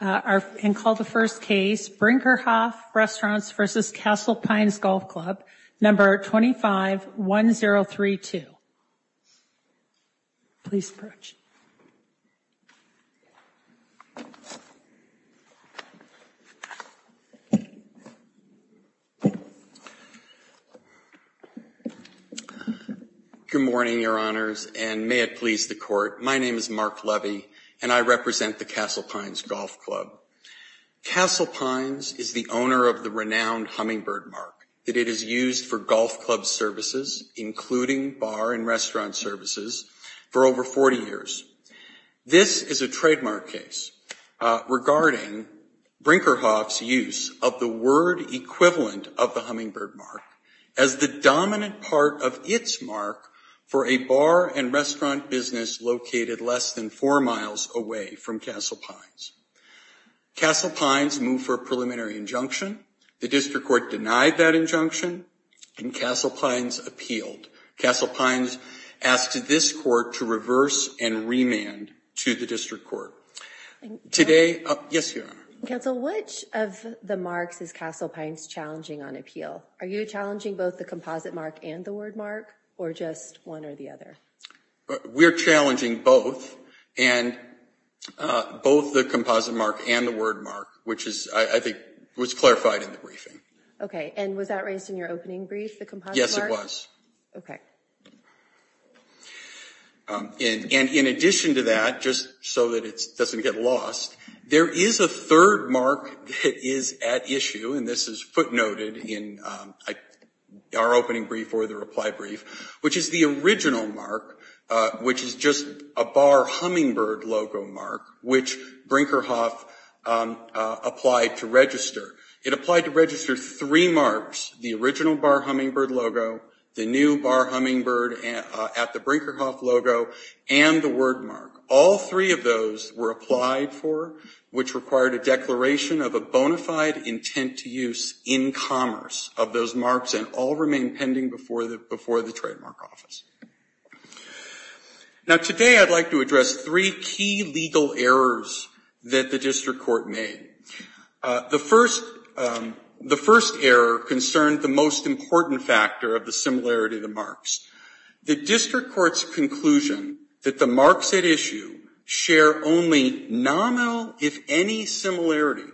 and call the first case, Brinkerhoff Restaurants v. Castle Pines Golf Club, number 251032. Please approach. Good morning, your honors, and may it please the court, my name is Mark Levy, and I represent the Castle Pines Golf Club. Castle Pines is the owner of the renowned Hummingbird Mark that it has used for golf club services, including bar and restaurant services for over 40 years. This is a trademark case regarding Brinkerhoff's use of the word equivalent of the Hummingbird Mark as the dominant part of its mark for a bar and restaurant business located less than four miles away from Castle Pines. Castle Pines moved for a preliminary injunction, the district court denied that injunction, and Castle Pines appealed. Castle Pines asked this court to reverse and remand to the district court. Today, yes, your honor. Counsel, which of the marks is Castle Pines challenging on appeal? Are you challenging both the composite mark and the word mark, or just one or the other? We're challenging both, and both the composite mark and the word mark, which I think was clarified in the briefing. Okay, and was that raised in your opening brief, the composite mark? Yes, it was. Okay. And in addition to that, just so that it doesn't get lost, there is a third mark that is at issue, and this is footnoted in our opening brief or the reply brief, which is the original mark, which is just a Bar Hummingbird logo mark, which Brinkerhoff applied to register. It applied to register three marks, the original Bar Hummingbird logo, the new Bar Hummingbird at the Brinkerhoff logo, and the word mark. All three of those were applied for, which required a declaration of a bona fide intent to use in commerce of those marks, and all remain pending before the Trademark Office. Now today, I'd like to address three key legal errors that the district court made. The first error concerned the most important factor of the similarity of the marks. The district court's conclusion that the marks at issue share only nominal, if any, similarity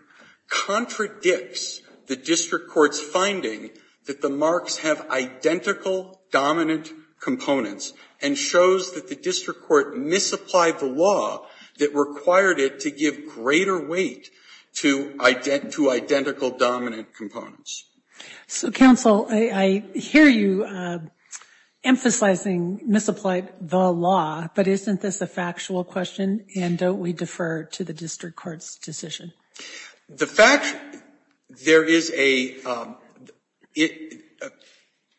contradicts the district court's finding that the marks have identical dominant components and shows that the district court misapplied the law that required it to give greater weight to identical dominant components. So counsel, I hear you emphasizing misapplied the law, but isn't this a factual question, and don't we defer to the district court's decision? The fact, there is a,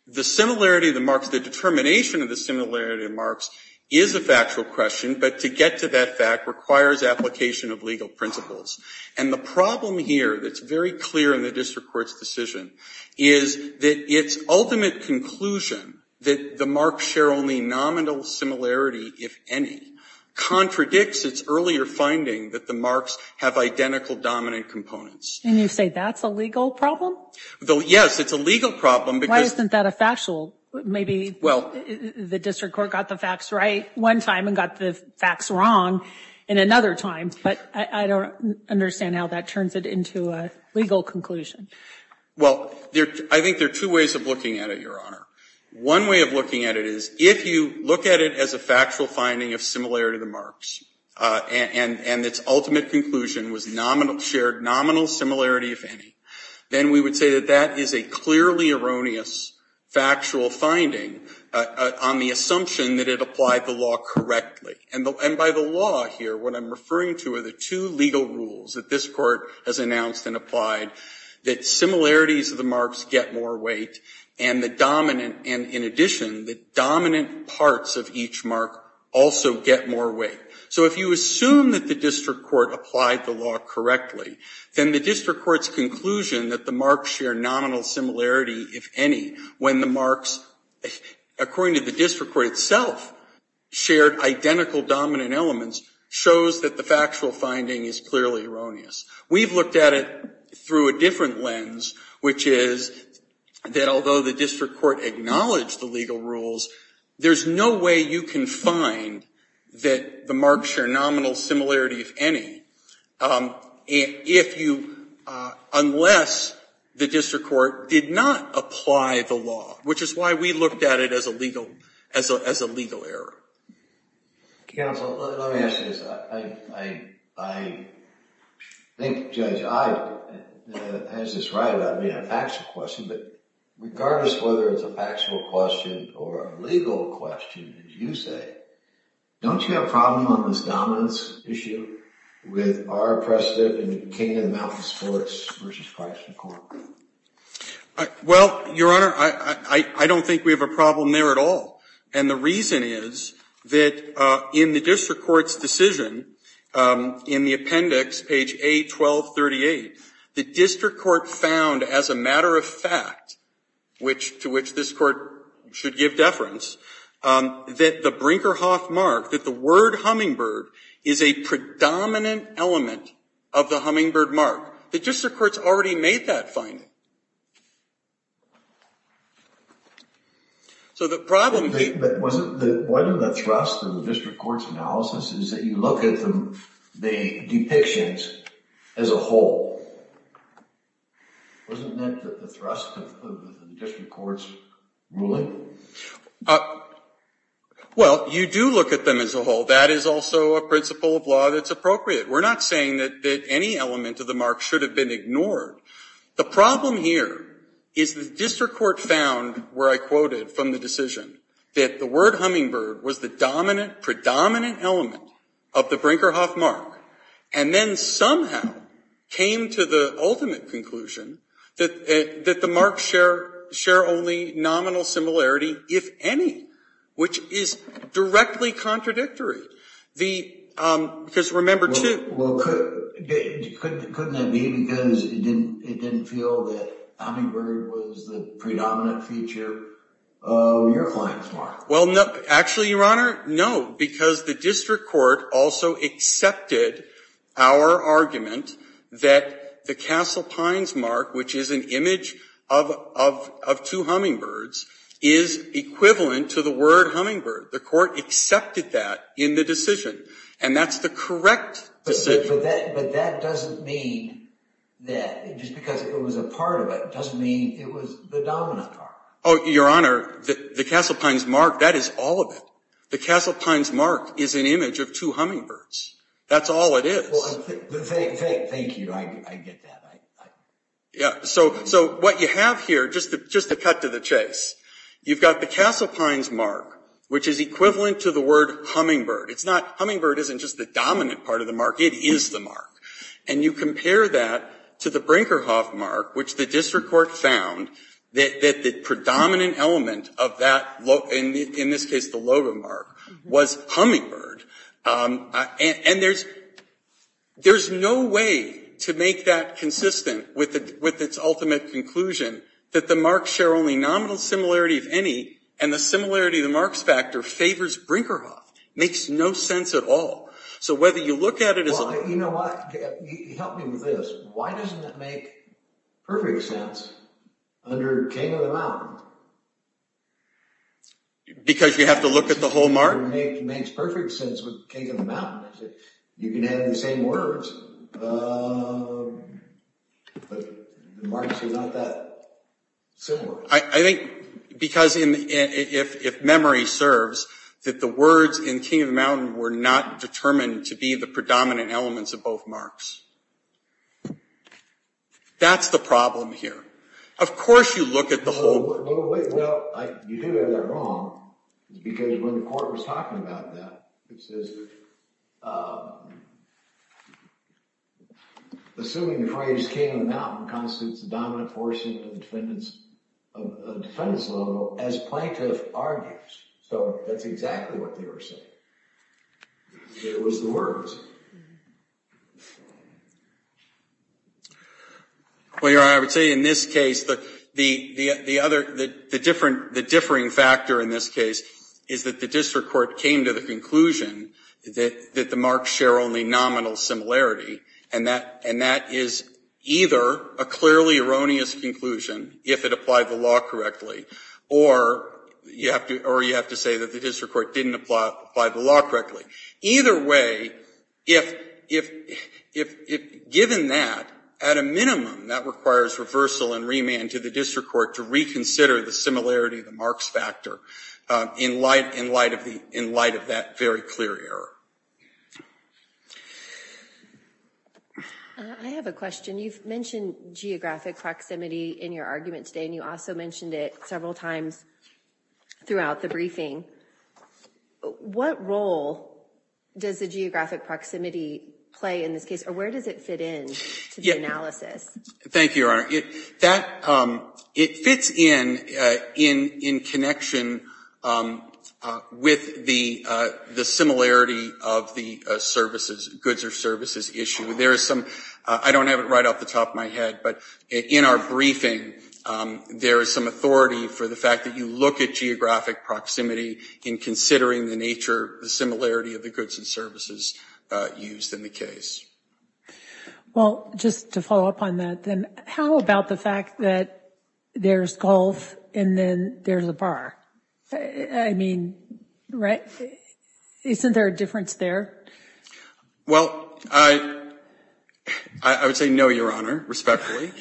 the similarity of the marks, the determination of the similarity of marks is a factual question, but to get to that fact requires application of legal principles. And the problem here that's very clear in the district court's decision is that its ultimate conclusion that the marks share only nominal similarity, if any, contradicts its earlier finding that the marks have identical dominant components. And you say that's a legal problem? Yes, it's a legal problem because. Why isn't that a factual? Maybe the district court got the facts right one time and got the facts wrong in another time, but I don't understand how that turns it into a legal conclusion. Well, I think there are two ways of looking at it, Your Honor. One way of looking at it is if you look at it as a factual finding of similarity of the marks, and its ultimate conclusion was nominal, shared nominal similarity, if any, then we would say that that is a clearly erroneous factual finding on the assumption that it applied the law correctly. And by the law here, what I'm referring to are the two legal rules that this court has announced and applied, that similarities of the marks get more weight, and the dominant, and in addition, the dominant parts of each mark also get more weight. So if you assume that the district court applied the law correctly, then the district court's conclusion that the marks share nominal similarity, if any, when the marks, according to the district court itself, shared identical dominant elements, shows that the factual finding is clearly erroneous. We've looked at it through a different lens, which is that although the district court acknowledged the legal rules, there's no way you can find that the marks share nominal similarity, if any, unless the district court did not apply the law, which is why we looked at it as a legal error. Counsel, let me ask you this. I think Judge I has this right about it being a factual question, but regardless whether it's a factual question or a legal question, as you say, don't you have a problem on this dominance issue with our precedent in King and Mountain Sports versus Price and Corp? Well, Your Honor, I don't think we have a problem there at all, and the reason is that in the district court's decision, in the appendix, page A1238, the district court found as a matter of fact, which to which this court should give deference, that the Brinkerhoff mark, that the word Hummingbird is a predominant element of the Hummingbird mark. The district court's already made that finding. So the problem is- But wasn't one of the thrusts of the district court's analysis is that you look at the depictions as a whole. Wasn't that the thrust of the district court's ruling? Well, you do look at them as a whole. That is also a principle of law that's appropriate. We're not saying that any element of the mark should have been ignored. The problem here is the district court found, where I quoted from the decision, that the word Hummingbird was the dominant, predominant element of the Brinkerhoff mark, and then somehow came to the ultimate conclusion that the marks share only nominal similarity, if any, which is directly contradictory. Because remember, too- Well, couldn't it be because it didn't feel that Hummingbird was the predominant feature of your client's mark? Well, actually, Your Honor, no, because the district court also accepted our argument that the Castle Pines mark, which is an image of two hummingbirds, is equivalent to the word Hummingbird. The court accepted that in the decision, and that's the correct decision. But that doesn't mean that, just because it was a part of it doesn't mean it was the dominant part. Oh, Your Honor, the Castle Pines mark, that is all of it. The Castle Pines mark is an image of two hummingbirds. That's all it is. Well, thank you, I get that. Yeah, so what you have here, just to cut to the chase, you've got the Castle Pines mark, which is equivalent to the word Hummingbird. It's not, Hummingbird isn't just the dominant part of the mark, it is the mark. And you compare that to the Brinkerhoff mark, which the district court found that the predominant element of that, in this case, the logo mark, was Hummingbird. And there's no way to make that consistent with its ultimate conclusion that the marks share only nominal similarity of any, and the similarity of the marks factor favors Brinkerhoff. Makes no sense at all. So whether you look at it as a- You know what, help me with this. Why doesn't it make perfect sense under King of the Mountain? Because you have to look at the whole mark? It makes perfect sense with King of the Mountain. You can have the same words, but the marks are not that similar. I think, because if memory serves, that the words in King of the Mountain were not determined to be the predominant elements of both marks. That's the problem here. Of course you look at the whole- No, you do have that wrong. It's because when the court was talking about that, it says, assuming the phrase King of the Mountain constitutes the dominant portion of the defendant's logo, as plaintiff argues. So that's exactly what they were saying. It was the words. Well, Your Honor, I would say in this case, the differing factor in this case is that the district court came to the conclusion that the marks share only nominal similarity, and that is either a clearly erroneous conclusion if it applied the law correctly, or you have to say that the district court didn't apply the law correctly. Either way, the court's claim if given that, at a minimum, that requires reversal and remand to the district court to reconsider the similarity of the marks factor in light of that very clear error. I have a question. You've mentioned geographic proximity in your argument today, and you also mentioned it several times throughout the briefing. What role does the geographic proximity play in this case, or where does it fit in to the analysis? Thank you, Your Honor. It fits in, in connection with the similarity of the goods or services issue. There is some, I don't have it right off the top of my head, but in our briefing, there is some authority for the fact that you look at geographic proximity in considering the nature, the similarity of the goods and services used in the case. Well, just to follow up on that, then how about the fact that there's golf and then there's a bar? I mean, right? Isn't there a difference there? Well, I would say no, Your Honor, respectfully.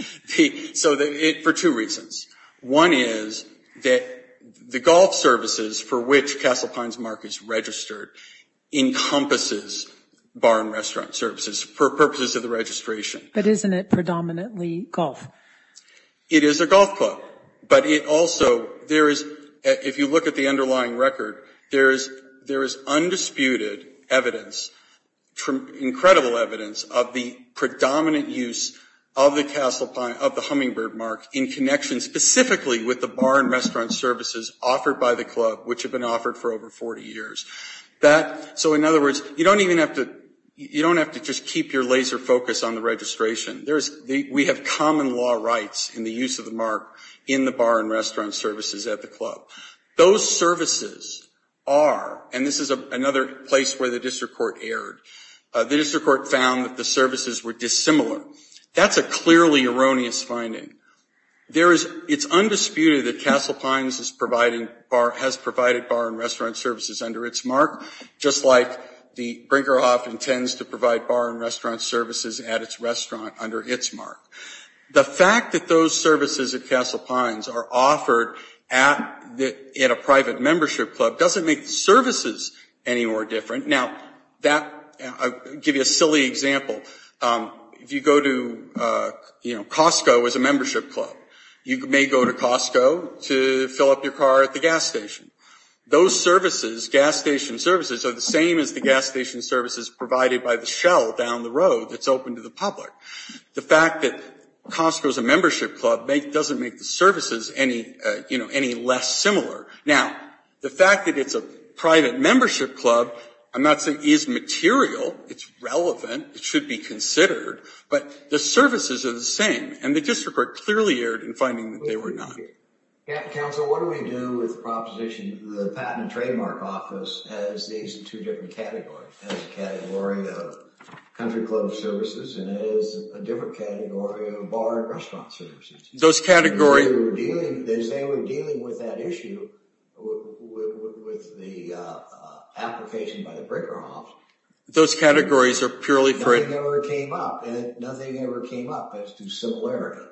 So, for two reasons. One is that the golf services for which Castle Pines Mark is registered encompasses bar and restaurant services for purposes of the registration. But isn't it predominantly golf? It is a golf club, but it also, there is, if you look at the underlying record, there is undisputed evidence, incredible evidence of the predominant use of the Hummingbird Mark in connection specifically with the bar and restaurant services offered by the club, which have been offered for over 40 years. That, so in other words, you don't even have to, you don't have to just keep your laser focus on the registration. We have common law rights in the use of the mark in the bar and restaurant services at the club. Those services are, and this is another place where the district court erred. The district court found that the services were dissimilar. That's a clearly erroneous finding. There is, it's undisputed that Castle Pines is providing, has provided bar and restaurant services under its mark, just like the Brinkerhoff intends to provide bar and restaurant services at its restaurant under its mark. The fact that those services at Castle Pines are offered at a private membership club doesn't make the services any more different. Now, that, I'll give you a silly example. If you go to, you know, Costco as a membership club, you may go to Costco to fill up your car at the gas station. Those services, gas station services, are the same as the gas station services provided by the Shell down the road that's open to the public. The fact that Costco's a membership club doesn't make the services any, you know, any less similar. Now, the fact that it's a private membership club, I'm not saying is material, it's relevant. It should be considered, but the services are the same, and the district are clearly erred in finding that they were not. Council, what do we do with the proposition of the Patent and Trademark Office as these two different categories, as a category of country club services and as a different category of bar and restaurant services? Those categories. They say we're dealing with that issue with the application by the Brinkerhoffs. Those categories are purely for it. Nothing ever came up, and nothing ever came up as to similarity.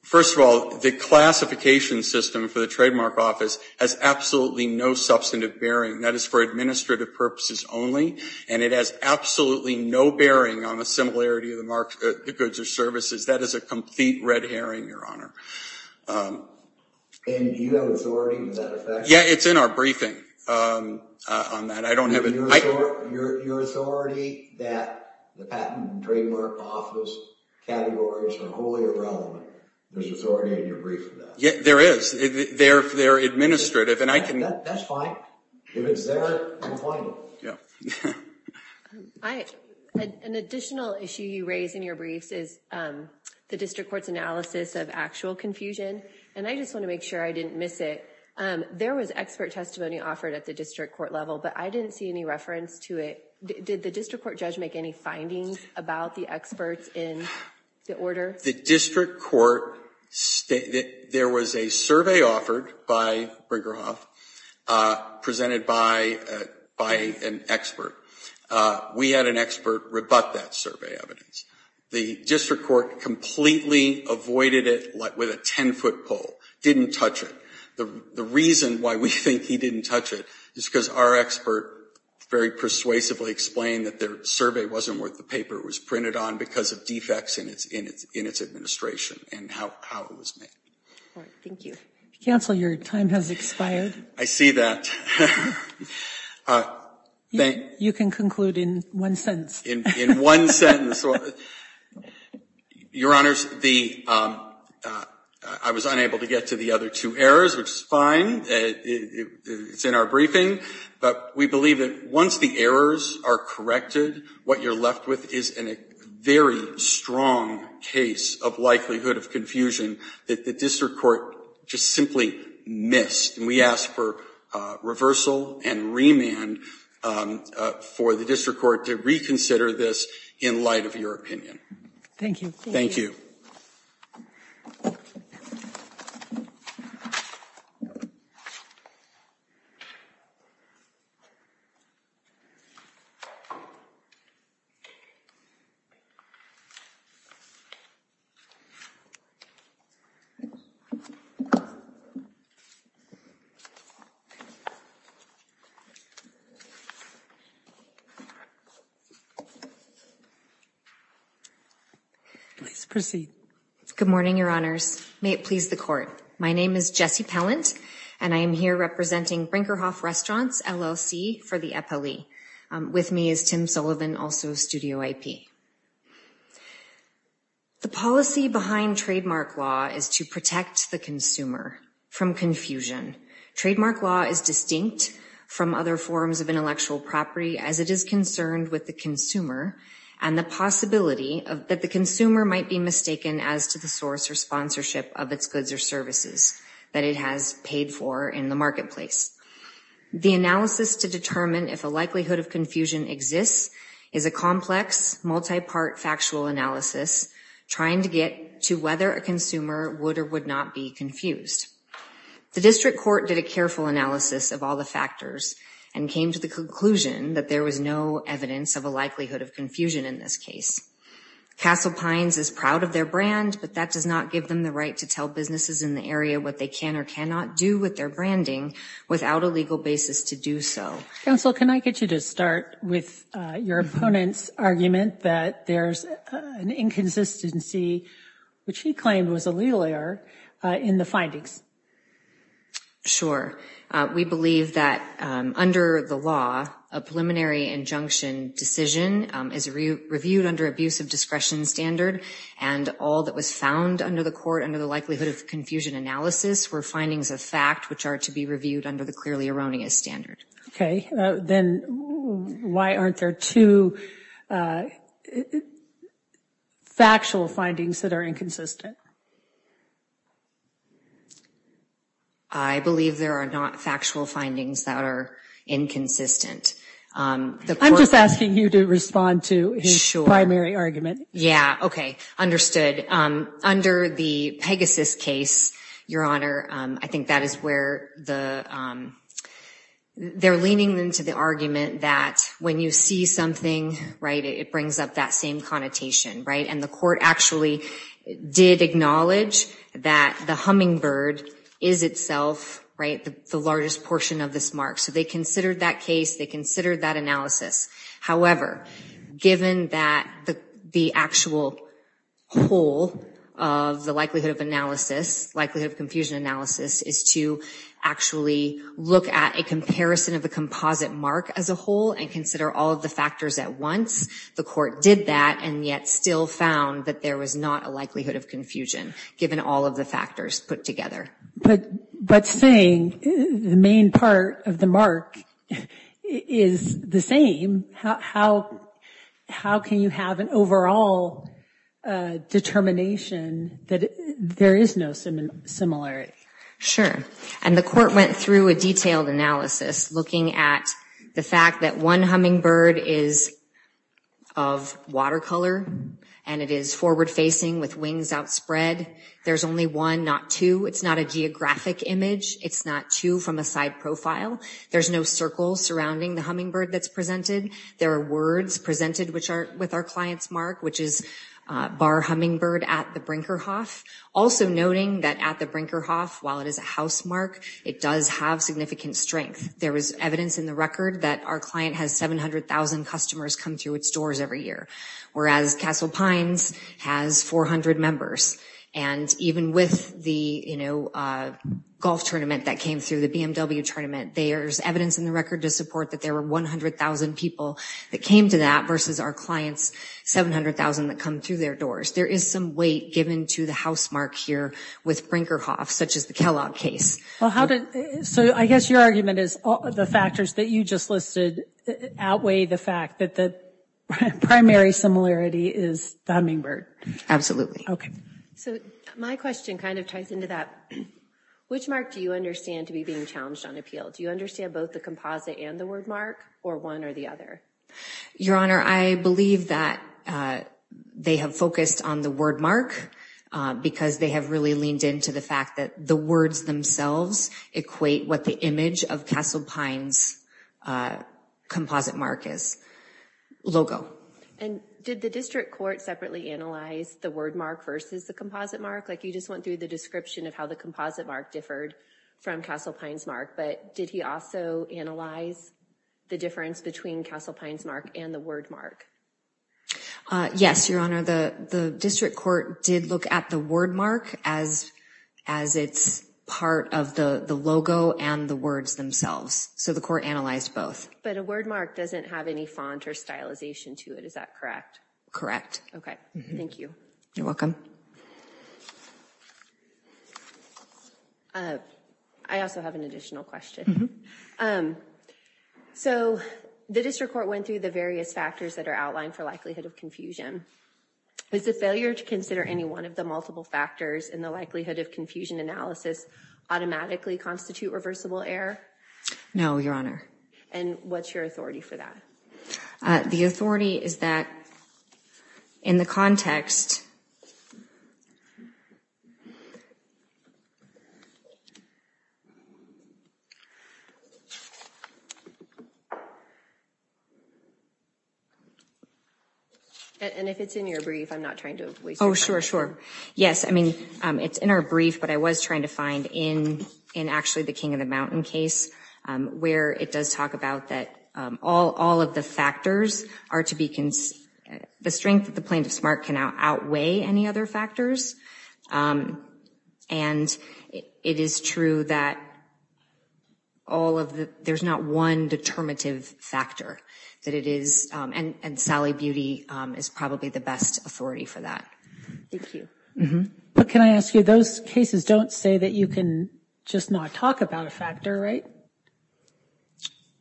First of all, the classification system for the Trademark Office has absolutely no substantive bearing. That is for administrative purposes only, and it has absolutely no bearing on the similarity of the goods or services. That is a complete red herring, Your Honor. And do you have authority with that effect? Yeah, it's in our briefing on that. I don't have it. Your authority that the Patent and Trademark Office categories are wholly irrelevant. There's authority in your brief for that. Yeah, there is. They're administrative, and I can... That's fine. If it's there, I'm fine with it. Yeah. An additional issue you raise in your briefs is the district court's analysis of actual confusion, and I just want to make sure I didn't miss it. There was expert testimony offered at the district court level, but I didn't see any reference to it. Did the district court judge make any findings about the experts in the order? The district court... There was a survey offered by Brigham Young presented by an expert. We had an expert rebut that survey evidence. The district court completely avoided it with a 10-foot pole, didn't touch it. The reason why we think he didn't touch it is because our expert very persuasively explained that their survey wasn't worth the paper it was printed on because of defects in its administration and how it was made. All right, thank you. Counsel, your time has expired. I see that. You can conclude in one sentence. In one sentence. Your Honors, I was unable to get to the other two errors, which is fine. It's in our briefing, but we believe that once the errors are corrected, what you're left with is a very strong case of likelihood of confusion that the district court just simply missed. And we ask for reversal and remand for the district court to reconsider this in light of your opinion. Thank you. Thank you. Please proceed. Good morning, Your Honors. May it please the court. My name is Jessie Pellant and I am here representing Brinkerhoff Restaurants, LLC, for the NLE. With me is Tim Sullivan, also Studio IP. The policy behind trademark law is to protect the consumer from confusion. Trademark law is distinct from other forms of intellectual property as it is concerned with the consumer and the possibility that the consumer might be mistaken as to the source or sponsorship of its goods or services that it has paid for in the marketplace. The analysis to determine if a likelihood of confusion exists is a complex, multi-part factual analysis trying to get to whether a consumer would or would not be confused. The district court did a careful analysis of all the factors and came to the conclusion that there was no evidence of a likelihood of confusion in this case. Castle Pines is proud of their brand, but that does not give them the right to tell businesses in the area what they can or cannot do with their branding without a legal basis to do so. Counsel, can I get you to start with your opponent's argument that there's an inconsistency, which he claimed was a legal error, in the findings? Sure. We believe that under the law, a preliminary injunction decision is reviewed under abuse of discretion standard and all that was found under the court, under the likelihood of confusion analysis, were findings of fact which are to be reviewed under the clearly erroneous standard. Okay, then why aren't there two factual findings that are inconsistent? I believe there are not factual findings that are inconsistent. I'm just asking you to respond to his primary argument. Yeah, okay, understood. Under the Pegasus case, Your Honor, I think that is where they're leaning into the argument that when you see something, it brings up that same connotation, and the court actually did acknowledge that the hummingbird is itself the largest portion of this mark, so they considered that case, they considered that analysis. However, given that the actual whole of the likelihood of analysis, likelihood of confusion analysis, is to actually look at a comparison of the composite mark as a whole and consider all of the factors at once, the court did that and yet still found that there was not a likelihood of confusion, given all of the factors put together. But saying the main part of the mark is the same, how can you have an overall determination that there is no similarity? Sure, and the court went through a detailed analysis looking at the fact that one hummingbird is of watercolor and it is forward-facing with wings outspread. There's only one, not two. It's not a geographic image. It's not two from a side profile. There's no circle surrounding the hummingbird that's presented. There are words presented with our client's mark, which is Bar Hummingbird at the Brinkerhoff. Also noting that at the Brinkerhoff, while it is a house mark, it does have significant strength. There was evidence in the record that our client has 700,000 customers come through its doors every year, whereas Castle Pines has 400 members. And even with the golf tournament that came through, the BMW tournament, there's evidence in the record to support that there were 100,000 people that came to that versus our client's 700,000 that come through their doors. There is some weight given to the house mark here with Brinkerhoff, such as the Kellogg case. Well, how did, so I guess your argument is the factors that you just listed outweigh the fact that the primary similarity is the hummingbird. Absolutely. Okay. So my question kind of ties into that. Which mark do you understand to be being challenged on appeal? Do you understand both the composite and the word mark, or one or the other? Your Honor, I believe that they have focused on the word mark because they have really leaned into the fact that the words themselves equate what the image of Castle Pines' composite mark is, logo. And did the district court separately analyze the word mark versus the composite mark? Like you just went through the description of how the composite mark differed from Castle Pines' mark. But did he also analyze the difference between Castle Pines' mark and the word mark? Yes, Your Honor. The district court did look at the word mark as it's part of the logo and the words themselves. So the court analyzed both. But a word mark doesn't have any font or stylization to it, is that correct? Correct. Okay, thank you. You're welcome. I also have an additional question. So the district court went through the various factors that are outlined for likelihood of confusion. Is the failure to consider any one of the multiple factors in the likelihood of confusion analysis automatically constitute reversible error? No, Your Honor. And what's your authority for that? The authority is that in the context of the plan of SMART, and if it's in your brief, I'm not trying to waste your time. Oh, sure, sure. Yes, I mean, it's in our brief, but I was trying to find in actually the King of the Mountain case, where it does talk about that all of the factors are to be, the strength of the plan of SMART can outweigh any other factors. And it is true that all of the, there's not one determinative factor that it is, and Sally Beauty is probably the best authority for that. Thank you. But can I ask you, those cases don't say that you can just not talk about a factor, right?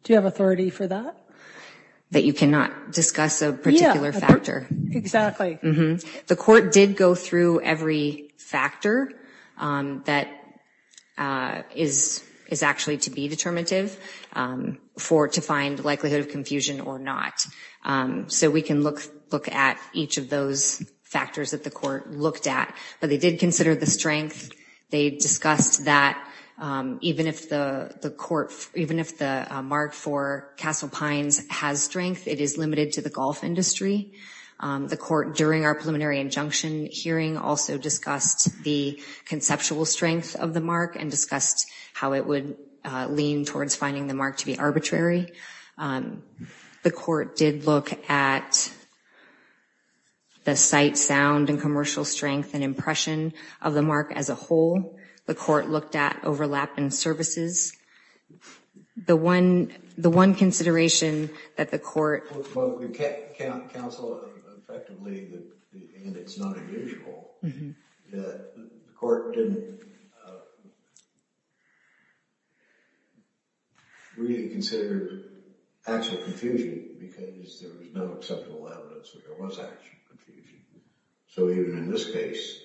Do you have authority for that? That you cannot discuss a particular factor. Exactly. The court did go through every factor that is actually to be determinative for to find likelihood of confusion or not. So we can look at each of those factors that the court looked at, but they did consider the strength. They discussed that even if the court, even if the mark for Castle Pines has strength, it is limited to the golf industry. The court, during our preliminary injunction hearing, also discussed the conceptual strength of the mark and discussed how it would lean towards finding the mark to be arbitrary. The court did look at the site sound and commercial strength and impression of the mark as a whole. The court looked at overlap in services. The one consideration that the court. Well, the counsel effectively, and it's not unusual, that the court didn't really consider actual confusion because there was no acceptable evidence where there was actual confusion. So even in this case,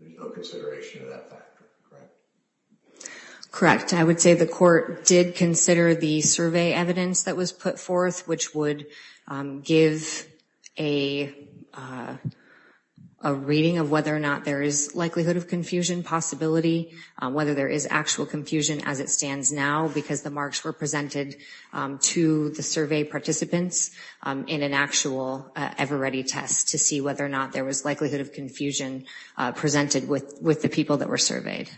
there's no consideration of that factor, correct? Correct, I would say the court did consider the survey evidence that was put forth, which would give a reading of whether or not there is likelihood of confusion possibility, whether there is actual confusion as it stands now because the marks were presented to the survey participants in an actual ever ready test to see whether or not there was likelihood of confusion presented with the people that were surveyed.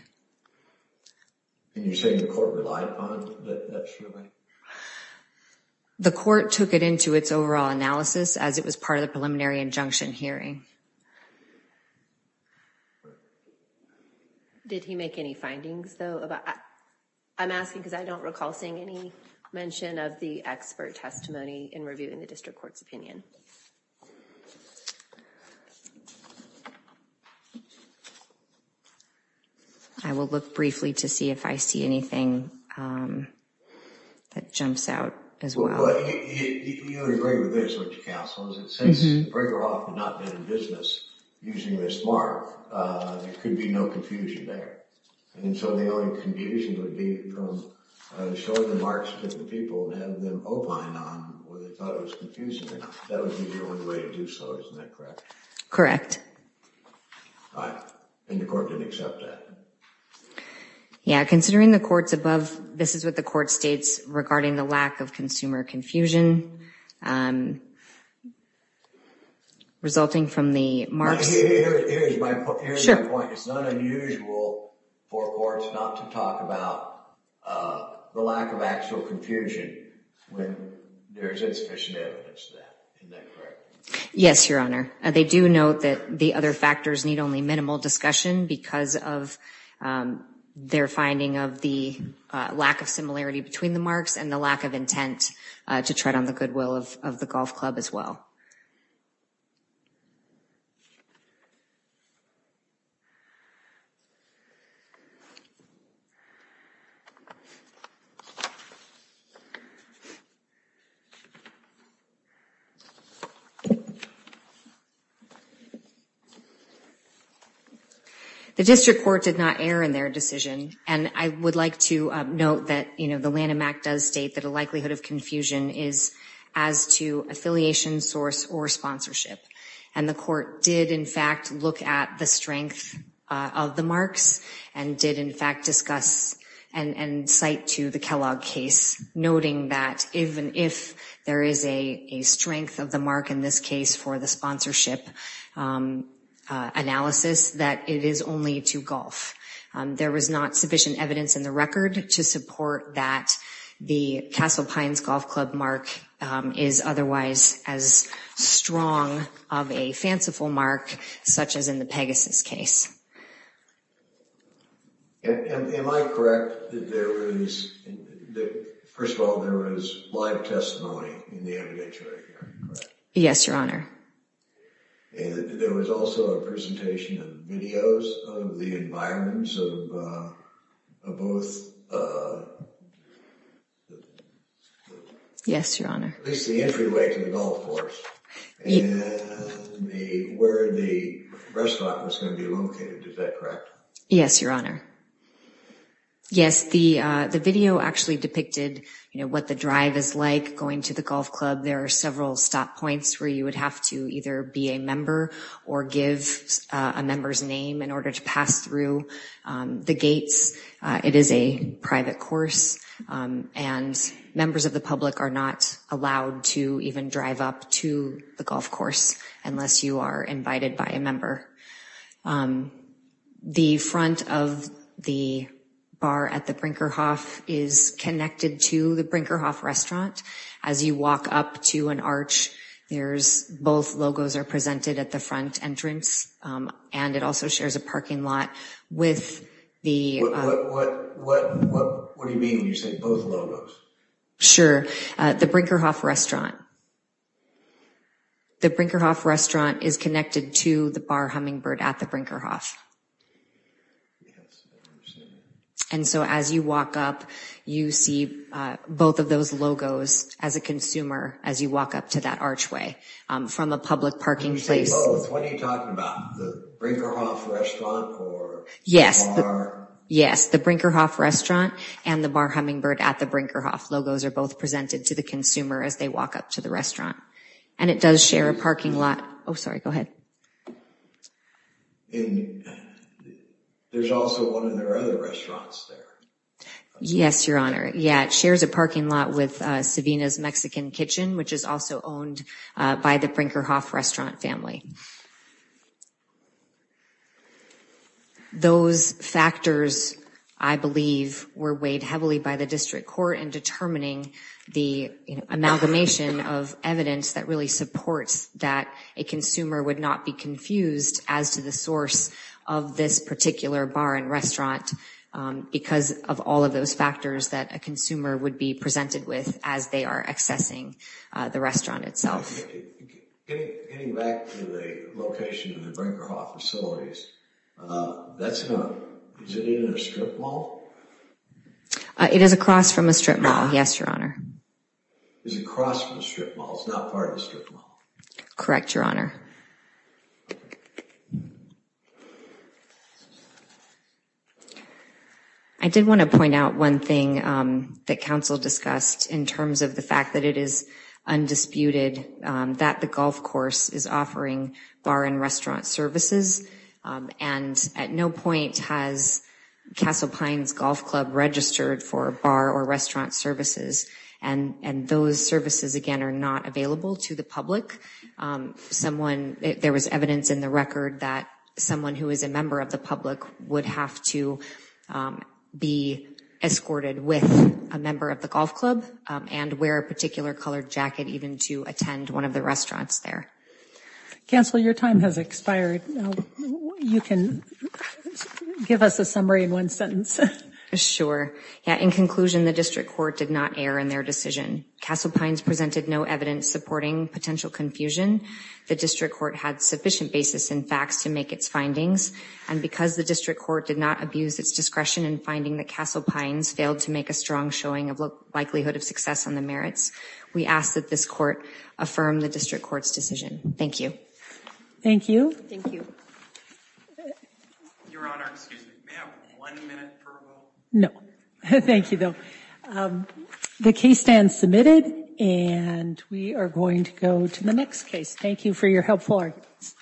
And you're saying the court relied on that survey? No, the court took it into its overall analysis as it was part of the preliminary injunction hearing. Did he make any findings, though, about? I'm asking because I don't recall seeing any mention of the expert testimony in reviewing the district court's opinion. I will look briefly to see if I see anything that jumps out as well. Well, you agree with this, don't you, counsel, is that since Bregerhoff had not been in business using this mark, there could be no confusion there. And so the only confusion would be from showing the marks to the people and having them opine on where they thought it was confusing. That would be the only way to do so, isn't that correct? Correct. And the court didn't accept that? Yeah, considering the courts above, this is what the court states regarding the lack of consumer confusion resulting from the marks. Here's my point. It's not unusual for courts not to talk about the lack of actual confusion when there's insufficient evidence of that. Yes, Your Honor. They do note that the other factors need only minimal discussion because of their finding of the lack of similarity between the marks and the lack of intent to tread on the goodwill of the golf club as well. The district court did not err in their decision and I would like to note that the Lanham Act does state that a likelihood of confusion is as to affiliation source or sponsorship. And the court did in fact look at the strength of the marks and did in fact discuss and cite to the Kellogg case noting that even if there is a strength of the mark in this case for the sponsorship analysis that it is only to golf. There was not sufficient evidence in the record to support that the Castle Pines Golf Club mark is otherwise as strong of a fanciful mark such as in the Pegasus case. Am I correct that there was, first of all, there was live testimony in the evidentiary hearing, correct? Yes, Your Honor. There was also a presentation of videos of the environments of both. Yes, Your Honor. At least the entryway to the golf course. Where the restaurant was gonna be located, is that correct? Yes, Your Honor. Yes, the video actually depicted what the drive is like going to the golf club. There are several stop points where you would have to either be a member or give a member's name in order to pass through the gates. It is a private course, and members of the public are not allowed to even drive up to the golf course unless you are invited by a member. The front of the bar at the Brinkerhof is connected to the Brinkerhof restaurant. As you walk up to an arch, there's both logos are presented at the front entrance, and it also shares a parking lot with the- What do you mean when you say both logos? Sure, the Brinkerhof restaurant. The Brinkerhof restaurant is connected to the Bar Hummingbird at the Brinkerhof. And so as you walk up, you see both of those logos as a consumer as you walk up to that archway from a public parking place. When you say both, what are you talking about? The Brinkerhof restaurant or the bar? Yes, the Brinkerhof restaurant and the Bar Hummingbird at the Brinkerhof. Logos are both presented to the consumer as they walk up to the restaurant, and it does share a parking lot. Oh, sorry, go ahead. There's also one in their other restaurants there. Yes, Your Honor. Yeah, it shares a parking lot with Savina's Mexican Kitchen, which is also owned by the Brinkerhof restaurant family. Those factors, I believe, were weighed heavily by the district court in determining the amalgamation of evidence that really supports that a consumer would not be confused as to the source of this particular bar and restaurant because of all of those factors that a consumer would be presented with as they are accessing the restaurant itself. Getting back to the location of the Brinkerhof facilities, that's not, is it in a strip mall? It is across from a strip mall, yes, Your Honor. Is it across from a strip mall? It's not part of a strip mall? Correct, Your Honor. Thank you, Your Honor. I did want to point out one thing that Council discussed in terms of the fact that it is undisputed that the golf course is offering bar and restaurant services, and at no point has Castle Pines Golf Club registered for bar or restaurant services, and those services, again, are not available to the public. Someone, there was evidence in the record that someone who is a member of the public would have to be escorted with a member of the golf club and wear a particular colored jacket even to attend one of the restaurants there. Counsel, your time has expired. You can give us a summary in one sentence. Sure, yeah, in conclusion, the district court did not err in their decision. Castle Pines presented no evidence supporting potential confusion. The district court had sufficient basis in facts to make its findings, and because the district court did not abuse its discretion in finding that Castle Pines failed to make a strong showing of likelihood of success on the merits, we ask that this court affirm the district court's decision. Thank you. Thank you. Thank you. Your Honor, excuse me, may I have one minute for a vote? No, thank you, though. The case stands submitted, and we are going to go to the next case. Thank you for your helpful arguments.